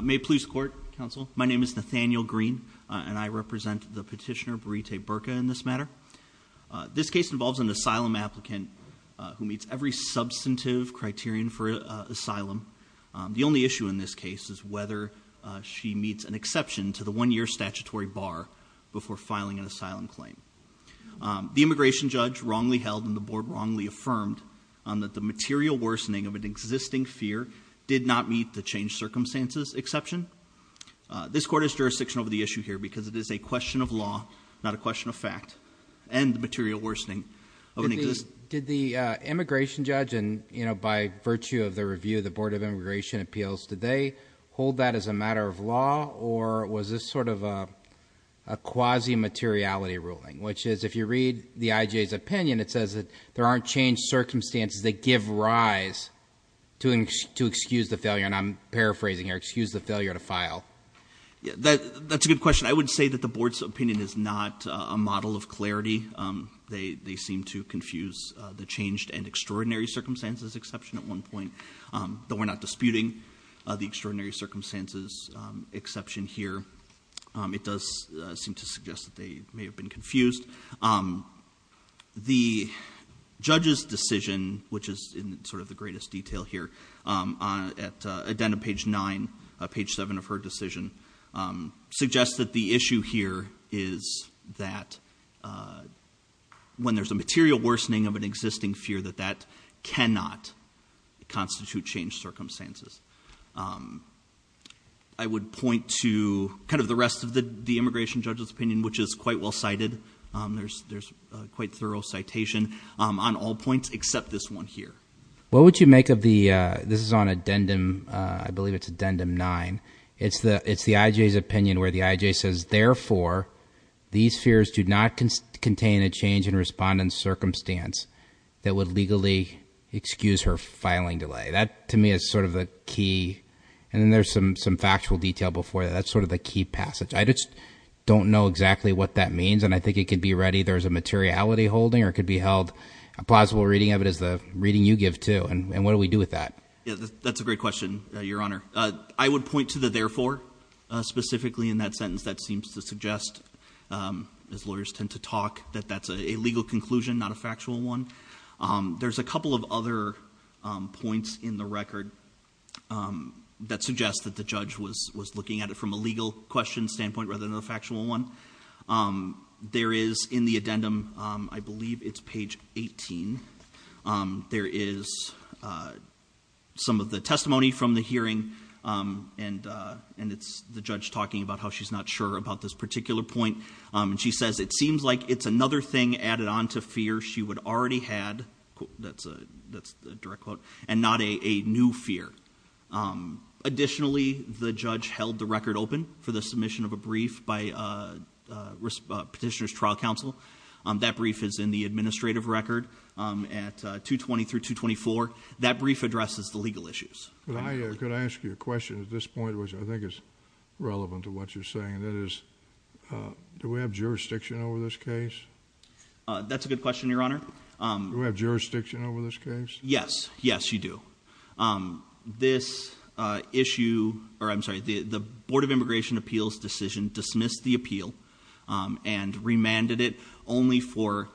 May it please the Court, Counsel. My name is Nathaniel Green, and I represent the petitioner Burite Burka in this matter. This case involves an asylum applicant who meets every substantive criterion for asylum. The only issue in this case is whether she meets an exception to the one-year statutory bar before filing an asylum claim. The immigration judge wrongly held and the board wrongly affirmed that the material worsening of an existing fear did not meet the changed circumstances exception. This court is jurisdictional over the issue here because it is a question of law, not a question of fact. And the material worsening of an existing- Did the immigration judge, and by virtue of the review of the Board of Immigration Appeals, did they hold that as a matter of law, or was this sort of a quasi-materiality ruling? Which is, if you read the IJ's opinion, it says that there aren't changed circumstances that give rise to excuse the failure. And I'm paraphrasing here, excuse the failure to file. Yeah, that's a good question. I would say that the board's opinion is not a model of clarity. They seem to confuse the changed and extraordinary circumstances exception at one point. Though we're not disputing the extraordinary circumstances exception here. It does seem to suggest that they may have been confused. The judge's decision, which is in sort of the greatest detail here, at the end of page nine, page seven of her decision, suggests that the issue here is that when there's a material worsening of an existing fear that that cannot constitute changed circumstances. I would point to kind of the rest of the immigration judge's opinion, which is quite well cited. There's quite thorough citation on all points except this one here. What would you make of the, this is on addendum, I believe it's addendum nine. It's the IJ's opinion where the IJ says, therefore, these fears do not contain a change in respondent's circumstance. That would legally excuse her filing delay. That, to me, is sort of the key, and then there's some factual detail before that. That's sort of the key passage. I just don't know exactly what that means, and I think it could be read either as a materiality holding or it could be held, a plausible reading of it is the reading you give too, and what do we do with that? Yeah, that's a great question, your honor. I would point to the therefore, specifically in that sentence that seems to suggest, as lawyers tend to talk, that that's a legal conclusion, not a factual one. There's a couple of other points in the record that suggest that the judge was looking at it from a legal question standpoint rather than a factual one. There is in the addendum, I believe it's page 18, there is some of the testimony from the hearing, and it's the judge talking about how she's not sure about this particular point. And she says, it seems like it's another thing added on to fear she would already had, that's a direct quote, and not a new fear. Additionally, the judge held the record open for the submission of a brief by Petitioner's Trial Counsel. That brief is in the administrative record at 220 through 224. That brief addresses the legal issues. But I could ask you a question at this point, which I think is relevant to what you're saying. That is, do we have jurisdiction over this case? That's a good question, your honor. Do we have jurisdiction over this case? Yes, yes, you do. This issue, or I'm sorry, the Board of Immigration Appeals decision dismissed the appeal and remanded it only for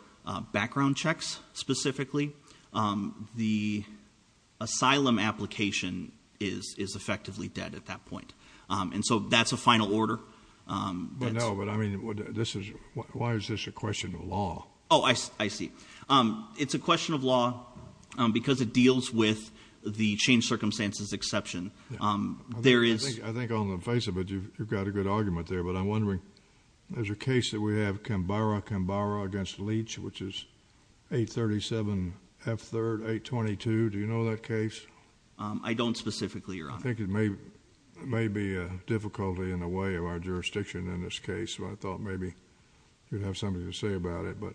background checks specifically. The asylum application is effectively dead at that point. And so that's a final order. But no, but I mean, why is this a question of law? I see. It's a question of law because it deals with the change circumstances exception. There is- I think on the face of it, you've got a good argument there. But I'm wondering, there's a case that we have, Kambara, Kambara against Leach, which is 837 F3rd 822, do you know that case? I don't specifically, your honor. I think it may be a difficulty in a way of our jurisdiction in this case. So I thought maybe you'd have something to say about it. But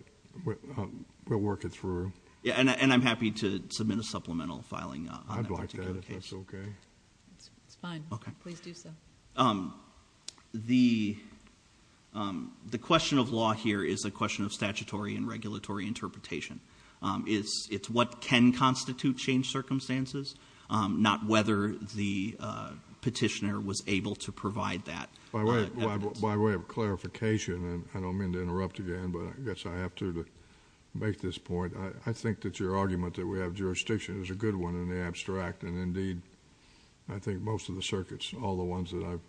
we'll work it through. Yeah, and I'm happy to submit a supplemental filing on that particular case. I'd like that if that's okay. It's fine. Okay. Please do so. The question of law here is a question of statutory and regulatory interpretation. It's what can constitute change circumstances, not whether the petitioner was able to provide that evidence. By way of clarification, and I don't mean to interrupt again, but I guess I have to make this point. I think that your argument that we have jurisdiction is a good one in the abstract. And indeed, I think most of the circuits, all the ones that I've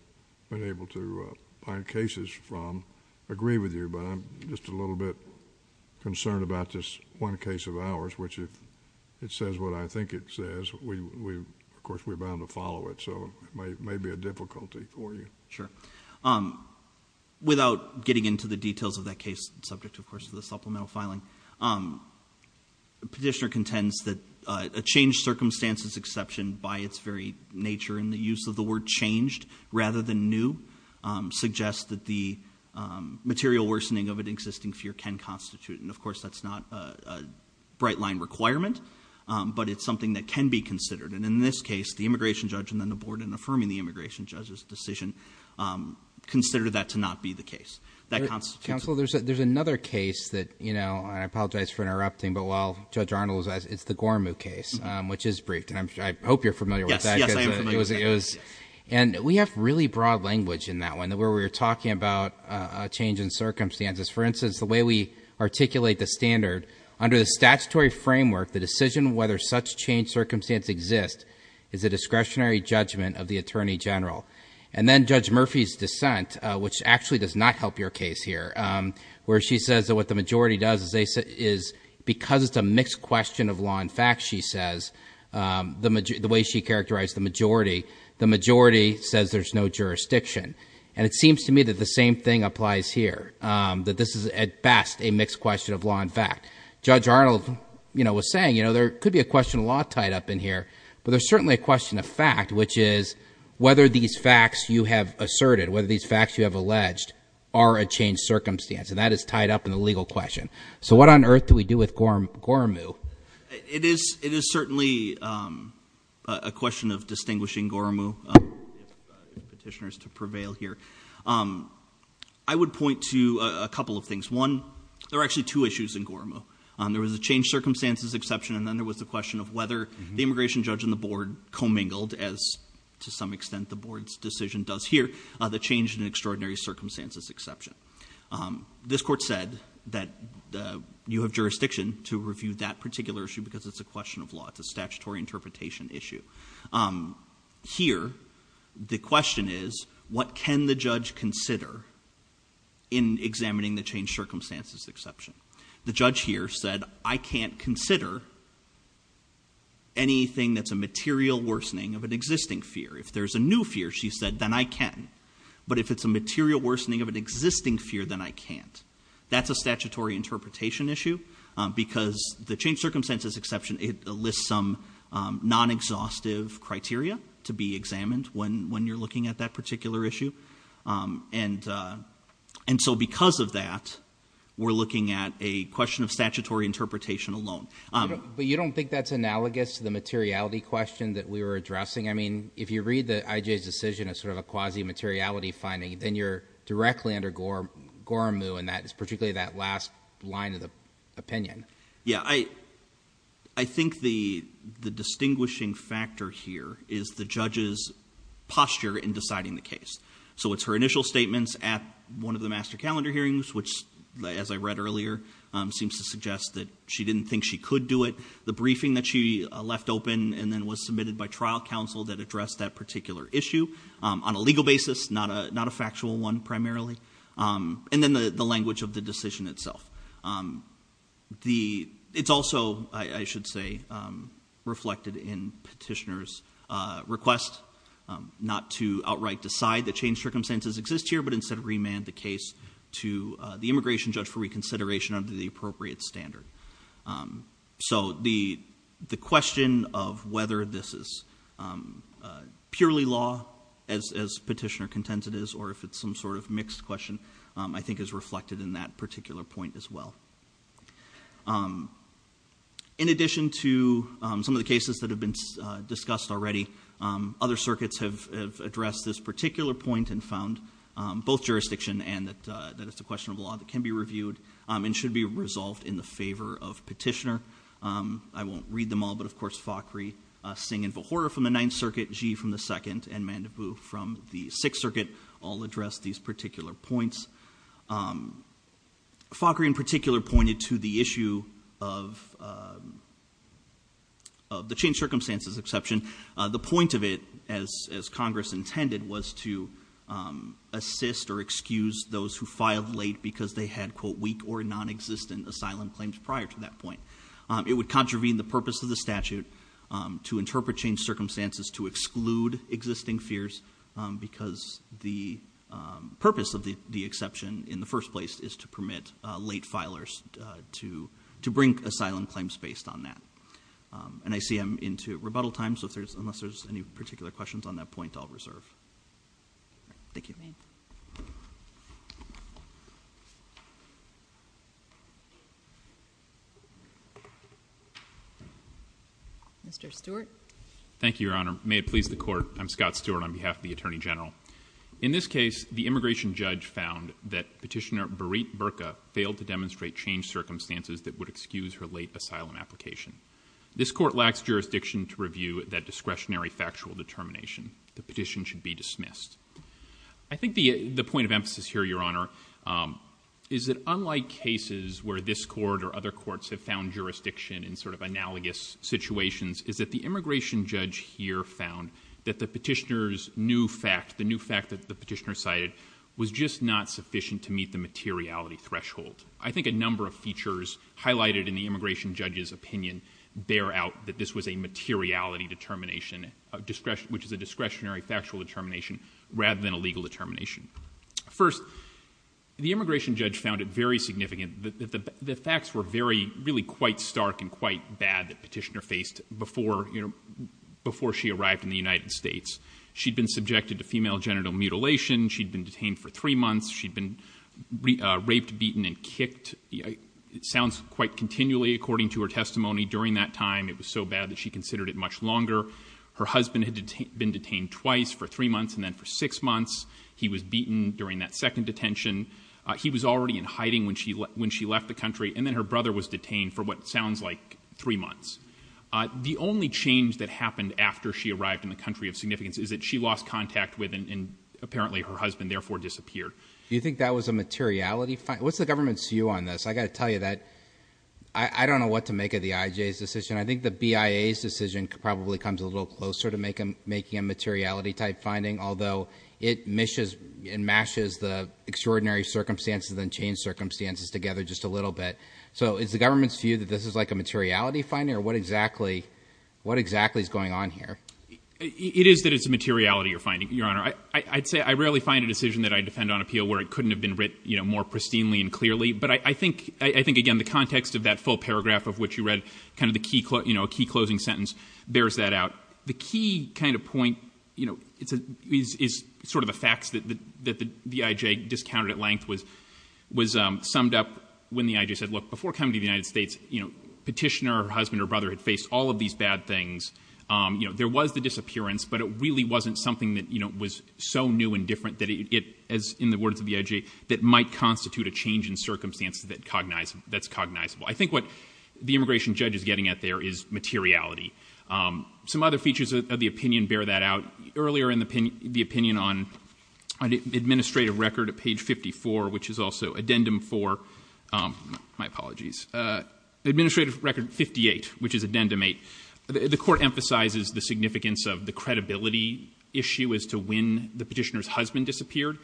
been able to find cases from, agree with you. But I'm just a little bit concerned about this one case of ours, which if it says what I think it says, of course, we're bound to follow it. So it may be a difficulty for you. Sure, without getting into the details of that case, subject of course to the supplemental filing, petitioner contends that a changed circumstances exception by its very nature in the use of the word changed, rather than new, suggests that the material worsening of an existing fear can constitute. And of course, that's not a bright line requirement, but it's something that can be considered. And in this case, the immigration judge and then the board in affirming the immigration judge's decision, considered that to not be the case. That constitutes- Council, there's another case that, and I apologize for interrupting, but while Judge Arnold was asked, it's the Gormuk case, which is briefed. And I hope you're familiar with that. Yes, yes, I am familiar with that. And we have really broad language in that one, where we're talking about change in circumstances. For instance, the way we articulate the standard under the statutory framework, the decision whether such changed circumstance exists is a discretionary judgment of the attorney general. And then Judge Murphy's dissent, which actually does not help your case here, where she says that what the majority does is because it's a mixed question of law and fact, she says. The way she characterized the majority, the majority says there's no jurisdiction. And it seems to me that the same thing applies here, that this is at best a mixed question of law and fact. Judge Arnold was saying, there could be a question of law tied up in here, but there's certainly a question of fact, which is whether these facts you have asserted, whether these facts you have alleged, are a changed circumstance. And that is tied up in the legal question. So what on earth do we do with Gormuk? It is certainly a question of distinguishing Gormuk, if the petitioner is to prevail here, I would point to a couple of things. One, there are actually two issues in Gormuk. There was a changed circumstances exception, and then there was the question of whether the immigration judge and the board commingled, as to some extent the board's decision does here, the change in extraordinary circumstances exception. This court said that you have jurisdiction to review that particular issue because it's a question of law. It's a statutory interpretation issue. Here, the question is, what can the judge consider in examining the changed circumstances exception? The judge here said, I can't consider anything that's a material worsening of an existing fear. If there's a new fear, she said, then I can. But if it's a material worsening of an existing fear, then I can't. That's a statutory interpretation issue, because the changed circumstances exception, it lists some non-exhaustive criteria to be examined when you're looking at that particular issue. And so because of that, we're looking at a question of statutory interpretation alone. But you don't think that's analogous to the materiality question that we were addressing? I mean, if you read the IJ's decision as sort of a quasi-materiality finding, then you're directly under Goremu, and that is particularly that last line of the opinion. Yeah, I think the distinguishing factor here is the judge's posture in deciding the case. So it's her initial statements at one of the master calendar hearings, which, as I read earlier, seems to suggest that she didn't think she could do it. The briefing that she left open and then was submitted by trial counsel that addressed that particular issue on a legal basis, not a factual one primarily, and then the language of the decision itself. It's also, I should say, reflected in petitioner's request not to outright decide that changed circumstances exist here, but instead remand the case to the immigration judge for reconsideration under the appropriate standard. So the question of whether this is purely law, as petitioner contends it is, or if it's some sort of mixed question, I think is reflected in that particular point as well. In addition to some of the cases that have been discussed already, other circuits have addressed this particular point and found both jurisdiction and that it's a question of law that can be reviewed and should be resolved in the favor of petitioner. I won't read them all, but of course Fakhri, Singh and Vohora from the Ninth Circuit, Zhi from the Second, and Mandabu from the Sixth Circuit, all addressed these particular points. Fakhri in particular pointed to the issue of the changed circumstances exception. The point of it, as Congress intended, was to assist or excuse those who filed late because they had, quote, weak or non-existent asylum claims prior to that point. It would contravene the purpose of the statute to interpret changed circumstances to exclude existing fears because the purpose of the exception in the first place is to permit late filers to bring asylum claims based on that. And I see I'm into rebuttal time, so unless there's any particular questions on that point, I'll reserve. Thank you. Mr. Stewart. Thank you, Your Honor. May it please the Court, I'm Scott Stewart on behalf of the Attorney General. In this case, the immigration judge found that petitioner Berit Berka failed to demonstrate changed circumstances that would excuse her late asylum application. This Court lacks jurisdiction to review that discretionary factual determination. The petition should be dismissed. I think the point of emphasis here, Your Honor, is that unlike cases where this Court or other courts have found jurisdiction in sort of analogous situations, is that the immigration judge here found that the petitioner's new fact, the new fact that the petitioner cited, was just not sufficient to meet the materiality threshold. I think a number of features highlighted in the immigration judge's opinion bear out that this was a materiality determination of discretion, which is a discretionary factual determination rather than a legal determination. First, the immigration judge found it very significant that the facts were very, really quite stark and quite bad that petitioner faced before she arrived in the United States. She'd been subjected to female genital mutilation. She'd been detained for three months. She'd been raped, beaten, and kicked. It sounds quite continually according to her testimony during that time. It was so bad that she considered it much longer. Her husband had been detained twice for three months and then for six months. He was beaten during that second detention. He was already in hiding when she left the country. And then her brother was detained for what sounds like three months. The only change that happened after she arrived in the country of significance is that she lost contact with and apparently her husband therefore disappeared. Do you think that was a materiality? What's the government's view on this? I got to tell you that I don't know what to make of the IJ's decision. I think the BIA's decision probably comes a little closer to making a materiality type finding, although it mashes the extraordinary circumstances and change circumstances together just a little bit. So is the government's view that this is like a materiality finding? Or what exactly is going on here? It is that it's a materiality you're finding, Your Honor. I'd say I rarely find a decision that I defend on appeal where it couldn't have been written more pristinely and clearly. But I think, again, the context of that full paragraph of which you read a key closing sentence bears that out. The key point is the facts that the IJ discounted at length was summed up when the IJ said, look, before coming to the United States, petitioner or her husband or brother had faced all of these bad things. There was the disappearance, but it really wasn't something that was so new and different that it, as in the words of the IJ, that might constitute a change in circumstances that's cognizable. I think what the immigration judge is getting at there is materiality. Some other features of the opinion bear that out. Earlier in the opinion on administrative record at page 54, which is also addendum 4, my apologies, administrative record 58, which is addendum 8, the court emphasizes the significance of the credibility issue as to when the petitioner's husband disappeared.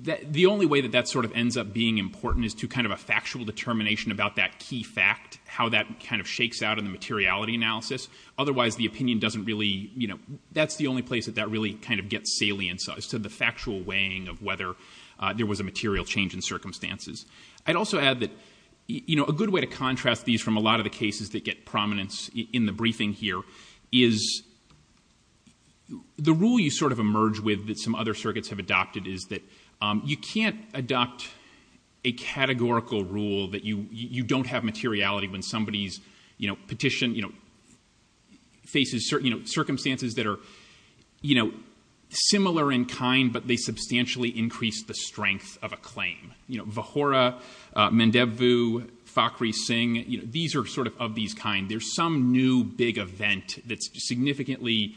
The only way that that sort of ends up being important is to kind of a factual determination about that key fact, how that kind of shakes out in the materiality analysis. Otherwise, the opinion doesn't really, you know, that's the only place that that really kind of gets salience as to the factual weighing of whether there was a material change in circumstances. I'd also add that, you know, a good way to contrast these from a lot of the cases that get prominence in the briefing here is the rule you sort of emerge with that some other circuits have adopted, is that you can't adopt a categorical rule that you don't have materiality when somebody's, you know, petition, you know, faces certain, you know, circumstances that are, you know, similar in kind, but they substantially increase the strength of a claim. You know, Vahora, Mandevu, Fakhri Singh, you know, these are sort of of these kind. There's some new big event that's significantly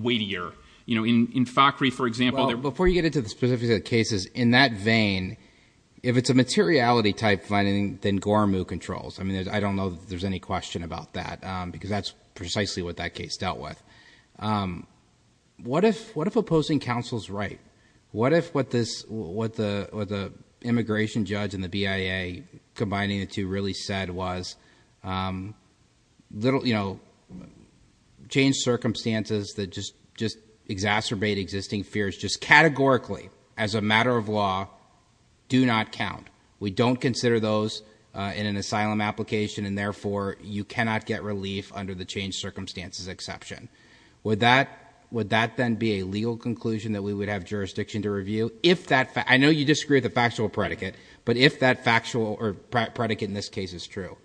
weightier, you know, in Fakhri, for example, before you get into the specific cases in that vein, if it's a materiality type finding, then Gormukh controls. I mean, I don't know if there's any question about that, because that's precisely what that case dealt with. What if what if opposing counsel's right? What if what this what the immigration judge and the BIA combining the two really said was little, you know, change circumstances that just just exacerbate existing fears, just categorically, as a matter of law, do not count. We don't consider those in an asylum application, and therefore you cannot get relief under the change circumstances exception. Would that would that then be a legal conclusion that we would have jurisdiction to or predicate in this case is true?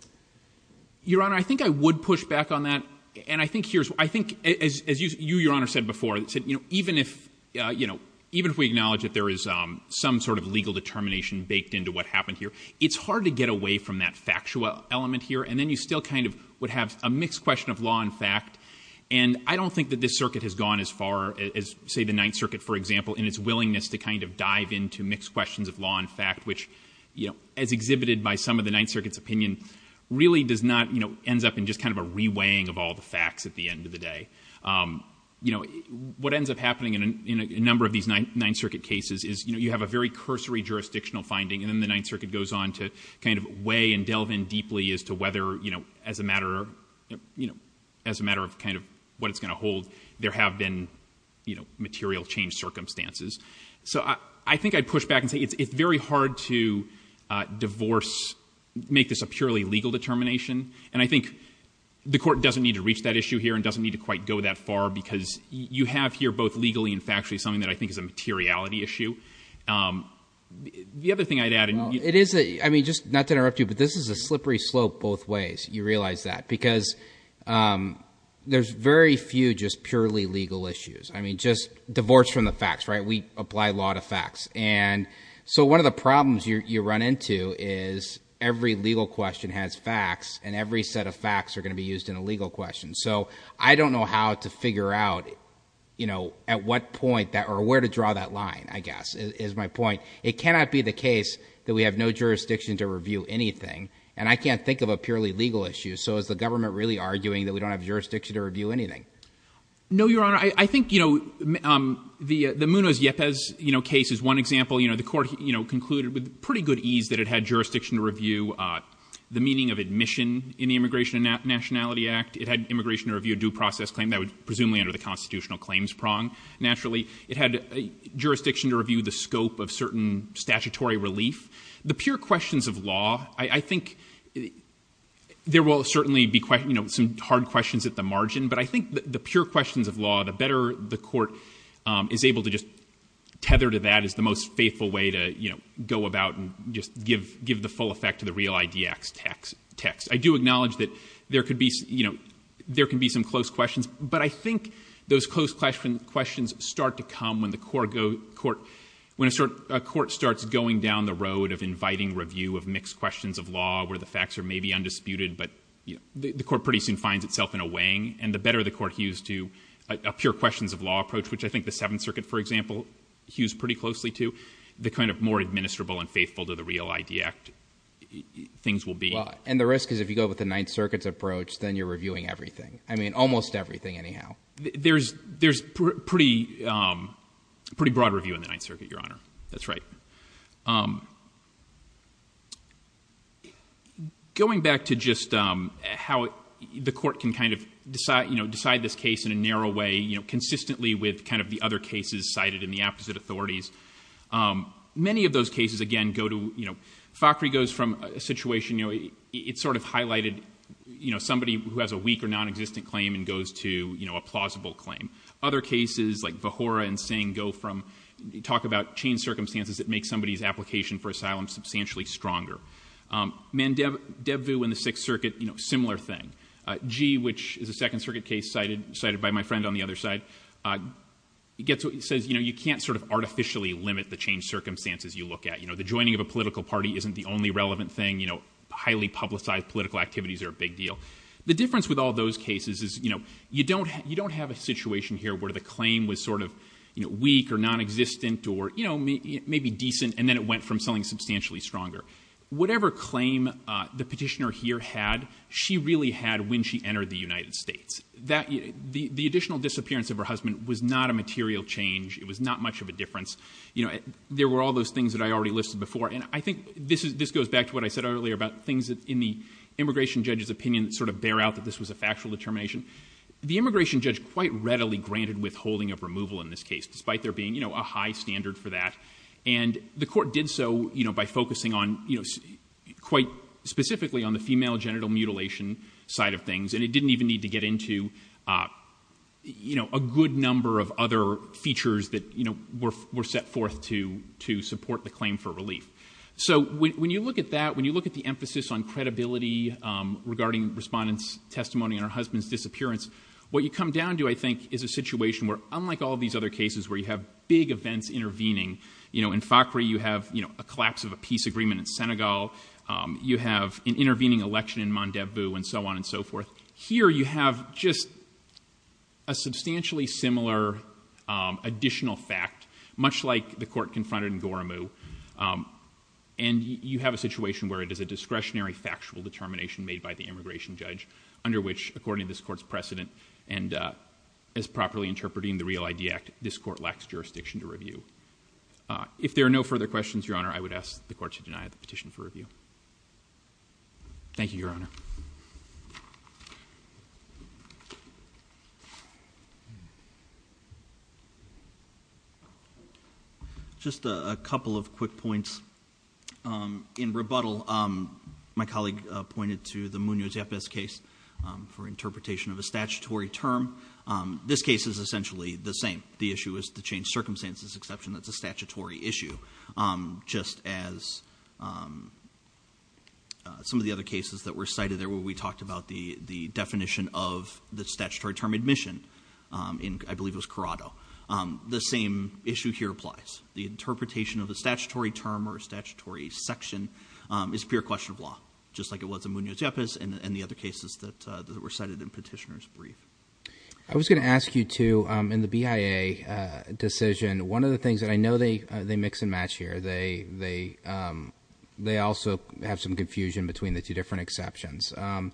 Your Honor, I think I would push back on that. And I think here's I think, as you, Your Honor said before, said, you know, even if, you know, even if we acknowledge that there is some sort of legal determination baked into what happened here, it's hard to get away from that factual element here. And then you still kind of would have a mixed question of law and fact. And I don't think that this circuit has gone as far as, say, the Ninth Circuit, for example, in its willingness to kind of dive into mixed questions of law and fact, which, you know, as exhibited by some of the Ninth Circuit's opinion, really does not, you know, ends up in just kind of a reweighing of all the facts at the end of the day. You know, what ends up happening in a number of these Ninth Circuit cases is, you know, you have a very cursory jurisdictional finding, and then the Ninth Circuit goes on to kind of weigh and delve in deeply as to whether, you know, as a matter of, you know, as a matter of kind of what it's going to hold, there have been, you know, material change circumstances. So I think I'd push back and it's very hard to divorce, make this a purely legal determination. And I think the court doesn't need to reach that issue here and doesn't need to quite go that far, because you have here both legally and factually something that I think is a materiality issue. The other thing I'd add, and it is, I mean, just not to interrupt you, but this is a slippery slope both ways. You realize that because there's very few just purely legal issues. I mean, just divorce from the facts, right? We apply law to facts. And so one of the problems you run into is every legal question has facts, and every set of facts are going to be used in a legal question. So I don't know how to figure out, you know, at what point that, or where to draw that line, I guess, is my point. It cannot be the case that we have no jurisdiction to review anything, and I can't think of a purely legal issue. So is the government really arguing that we don't have jurisdiction to review anything? No, Your Honor. I think, you know, the Munoz-Yepes case is one example. You know, the court concluded with pretty good ease that it had jurisdiction to review the meaning of admission in the Immigration and Nationality Act. It had immigration to review a due process claim that would presumably enter the constitutional claims prong, naturally. It had jurisdiction to review the scope of certain statutory relief. The pure questions of law, I think there will certainly be, you know, some hard questions at the margin, but I think the pure questions of law, the better the court is able to just tether to that is the most faithful way to, you know, go about and just give the full effect to the real IDX text. I do acknowledge that there could be, you know, there can be some close questions, but I think those close questions start to come when the court starts going down the road of inviting review of mixed questions of law where the facts are maybe undisputed, but, you know, the court pretty soon finds itself in a weighing, and the better the court hews to a pure questions of law approach, which I think the Seventh Circuit, for example, hews pretty closely to, the kind of more administrable and faithful to the real ID Act things will be. And the risk is if you go with the Ninth Circuit's approach, then you're reviewing everything. I mean, almost everything anyhow. There's pretty broad review in the Ninth Circuit, Your Honor. That's right. Going back to just how the court can kind of decide, you know, decide this case in a narrow way, you know, consistently with kind of the other cases cited in the opposite authorities. Many of those cases, again, go to, you know, Fakhri goes from a situation, you know, it sort of highlighted, you know, somebody who has a weak or non-existent claim and goes to, you know, a plausible claim. Other cases like Vahora and Singh go from, talk about change circumstances that make somebody's application for asylum substantially stronger. Um, Mandevu in the Sixth Circuit, you know, similar thing. Uh, Gee, which is a Second Circuit case cited, cited by my friend on the other side, uh, gets what he says, you know, you can't sort of artificially limit the change circumstances you look at, you know, the joining of a political party isn't the only relevant thing, you know, highly publicized political activities are a big deal. The difference with all those cases is, you know, you don't, you don't have a situation here where the claim was sort of, you know, weak or non-existent or, you know, maybe decent. And then it went from selling substantially stronger, whatever claim, uh, the petitioner here had, she really had when she entered the United States that the additional disappearance of her husband was not a material change. It was not much of a difference. You know, there were all those things that I already listed before. And I think this is, this goes back to what I said earlier about things in the immigration judge's opinion that sort of bear out that this was a factual determination. The immigration judge quite readily granted withholding of removal in this case, despite there being, you know, a high standard for that. And the court did so, you know, by focusing on, you know, quite specifically on the female genital mutilation side of things. And it didn't even need to get into, uh, you know, a good number of other features that, you know, were, were set forth to, to support the claim for relief. So when you look at that, when you look at the emphasis on credibility, um, regarding respondents testimony and her husband's disappearance, what you come down to, I think is a situation where unlike all of these other cases where you have big events intervening, you know, in FACRI, you have, you know, a collapse of a peace agreement in Senegal. Um, you have an intervening election in Mandebu and so on and so forth. Here you have just a substantially similar, um, additional fact, much like the court confronted in Goremu. Um, and you have a situation where it is a discretionary factual determination made by the immigration judge under which according to this court's precedent and, uh, as properly interpreting the Real ID Act, this court lacks jurisdiction to review. Uh, if there are no further questions, Your Honor, I would ask the court to deny the case. Just a couple of quick points. Um, in rebuttal, um, my colleague, uh, pointed to the Munoz-Yapes case, um, for interpretation of a statutory term. Um, this case is essentially the same. The issue is to change circumstances, exception that's a statutory issue. Um, just as, um, some of the other cases that were cited there where we talked about the, the definition of statutory term admission, um, in, I believe it was Corrado, um, the same issue here applies. The interpretation of a statutory term or a statutory section, um, is pure question of law, just like it was in Munoz-Yapes and the other cases that, uh, that were cited in Petitioner's Brief. I was going to ask you to, um, in the BIA, uh, decision, one of the things that I know they, they mix and match here, they, they, um, they also have some confusion between the two different exceptions. Um,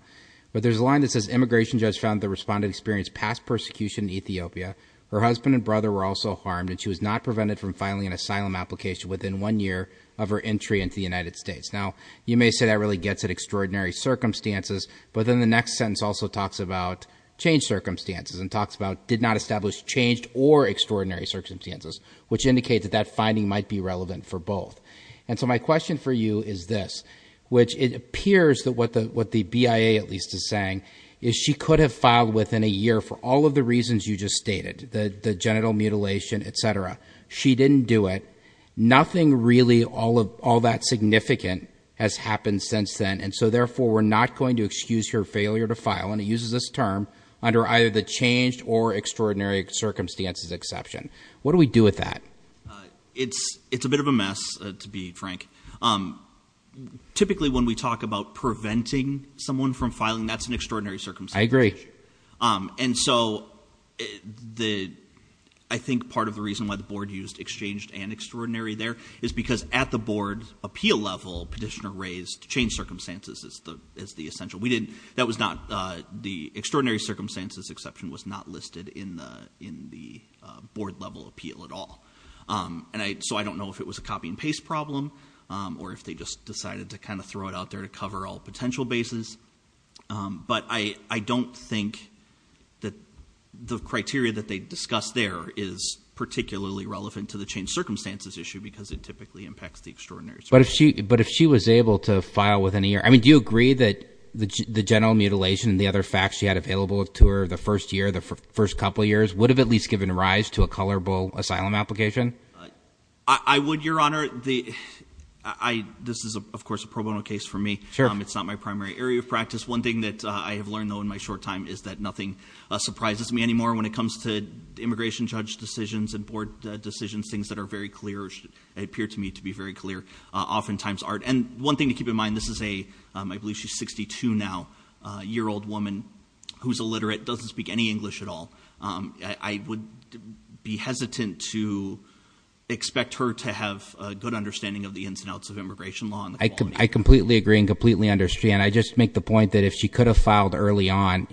but there's a line that says immigration judge found that the respondent experienced past persecution in Ethiopia. Her husband and brother were also harmed and she was not prevented from filing an asylum application within one year of her entry into the United States. Now, you may say that really gets at extraordinary circumstances, but then the next sentence also talks about changed circumstances and talks about did not establish changed or extraordinary circumstances, which indicates that that finding might be relevant for both. And so my question for you is this, which it appears that what the, what the BIA at least is saying is she could have filed within a year for all of the reasons you just stated, the, the genital mutilation, et cetera. She didn't do it. Nothing really all of all that significant has happened since then. And so therefore we're not going to excuse her failure to file. And it uses this term under either the changed or extraordinary circumstances exception. What do we do with that? Uh, it's, it's a bit of a mess to be frank. Um, typically when we talk about preventing someone from filing, that's an extraordinary circumstance. Um, and so the, I think part of the reason why the board used exchanged and extraordinary there is because at the board appeal level petitioner raised to change circumstances as the, as the essential we didn't, that was not, uh, the extraordinary circumstances exception was not listed in the, in the, uh, board level appeal at all. Um, and I, so I don't know if it was a copy and paste problem, um, or if they just decided to kind of throw it out there to cover all potential bases. Um, but I, I don't think that the criteria that they discussed there is particularly relevant to the change circumstances issue because it typically impacts the extraordinary. But if she, but if she was able to file within a year, I mean, do you agree that the G the general mutilation and the other facts she had available to her the first year, first couple of years would have at least given rise to a colorable asylum application? I would your honor the, I, this is of course a pro bono case for me. It's not my primary area of practice. One thing that I have learned though, in my short time is that nothing surprises me anymore when it comes to immigration judge decisions and board decisions. Things that are very clear, it appeared to me to be very clear, uh, oftentimes art. And one thing to keep in mind, this is a, um, I believe she's 62 now, a year old woman who's illiterate, doesn't speak any English at all. Um, I would be hesitant to expect her to have a good understanding of the ins and outs of immigration law. I completely agree and completely understand. I just make the point that if she could have filed early on,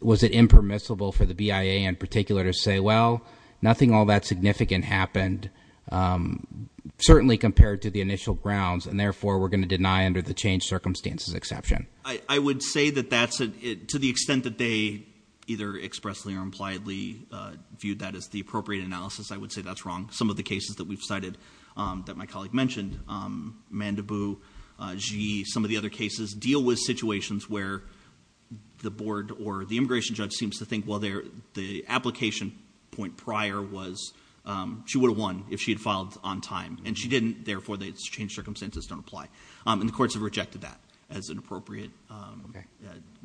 was it impermissible for the BIA in particular to say, well, nothing all that significant happened. Um, certainly compared to the initial grounds and therefore we're going to deny under the change circumstances exception. I would say that that's it to the extent that they either expressly or impliedly, uh, viewed that as the appropriate analysis. I would say that's wrong. Some of the cases that we've cited, um, that my colleague mentioned, um, mandibu, uh, she, some of the other cases deal with situations where the board or the immigration judge seems to think, well, there, the application point prior was, um, she would have won if she had filed on time and she didn't. Therefore they changed circumstances don't apply. Um, and the courts have rejected that as an appropriate, um,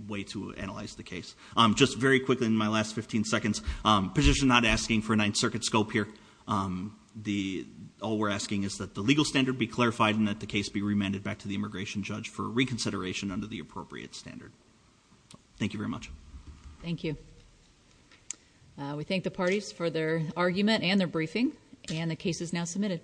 way to analyze the case. Um, just very quickly in my last 15 seconds, um, position not asking for a ninth circuit scope here. Um, the, all we're asking is that the legal standard be clarified and that the case be remanded back to the immigration judge for reconsideration under the appropriate standard. Thank you very much. Thank you. Uh, we thank the parties for their argument and their briefing and the case is now submitted.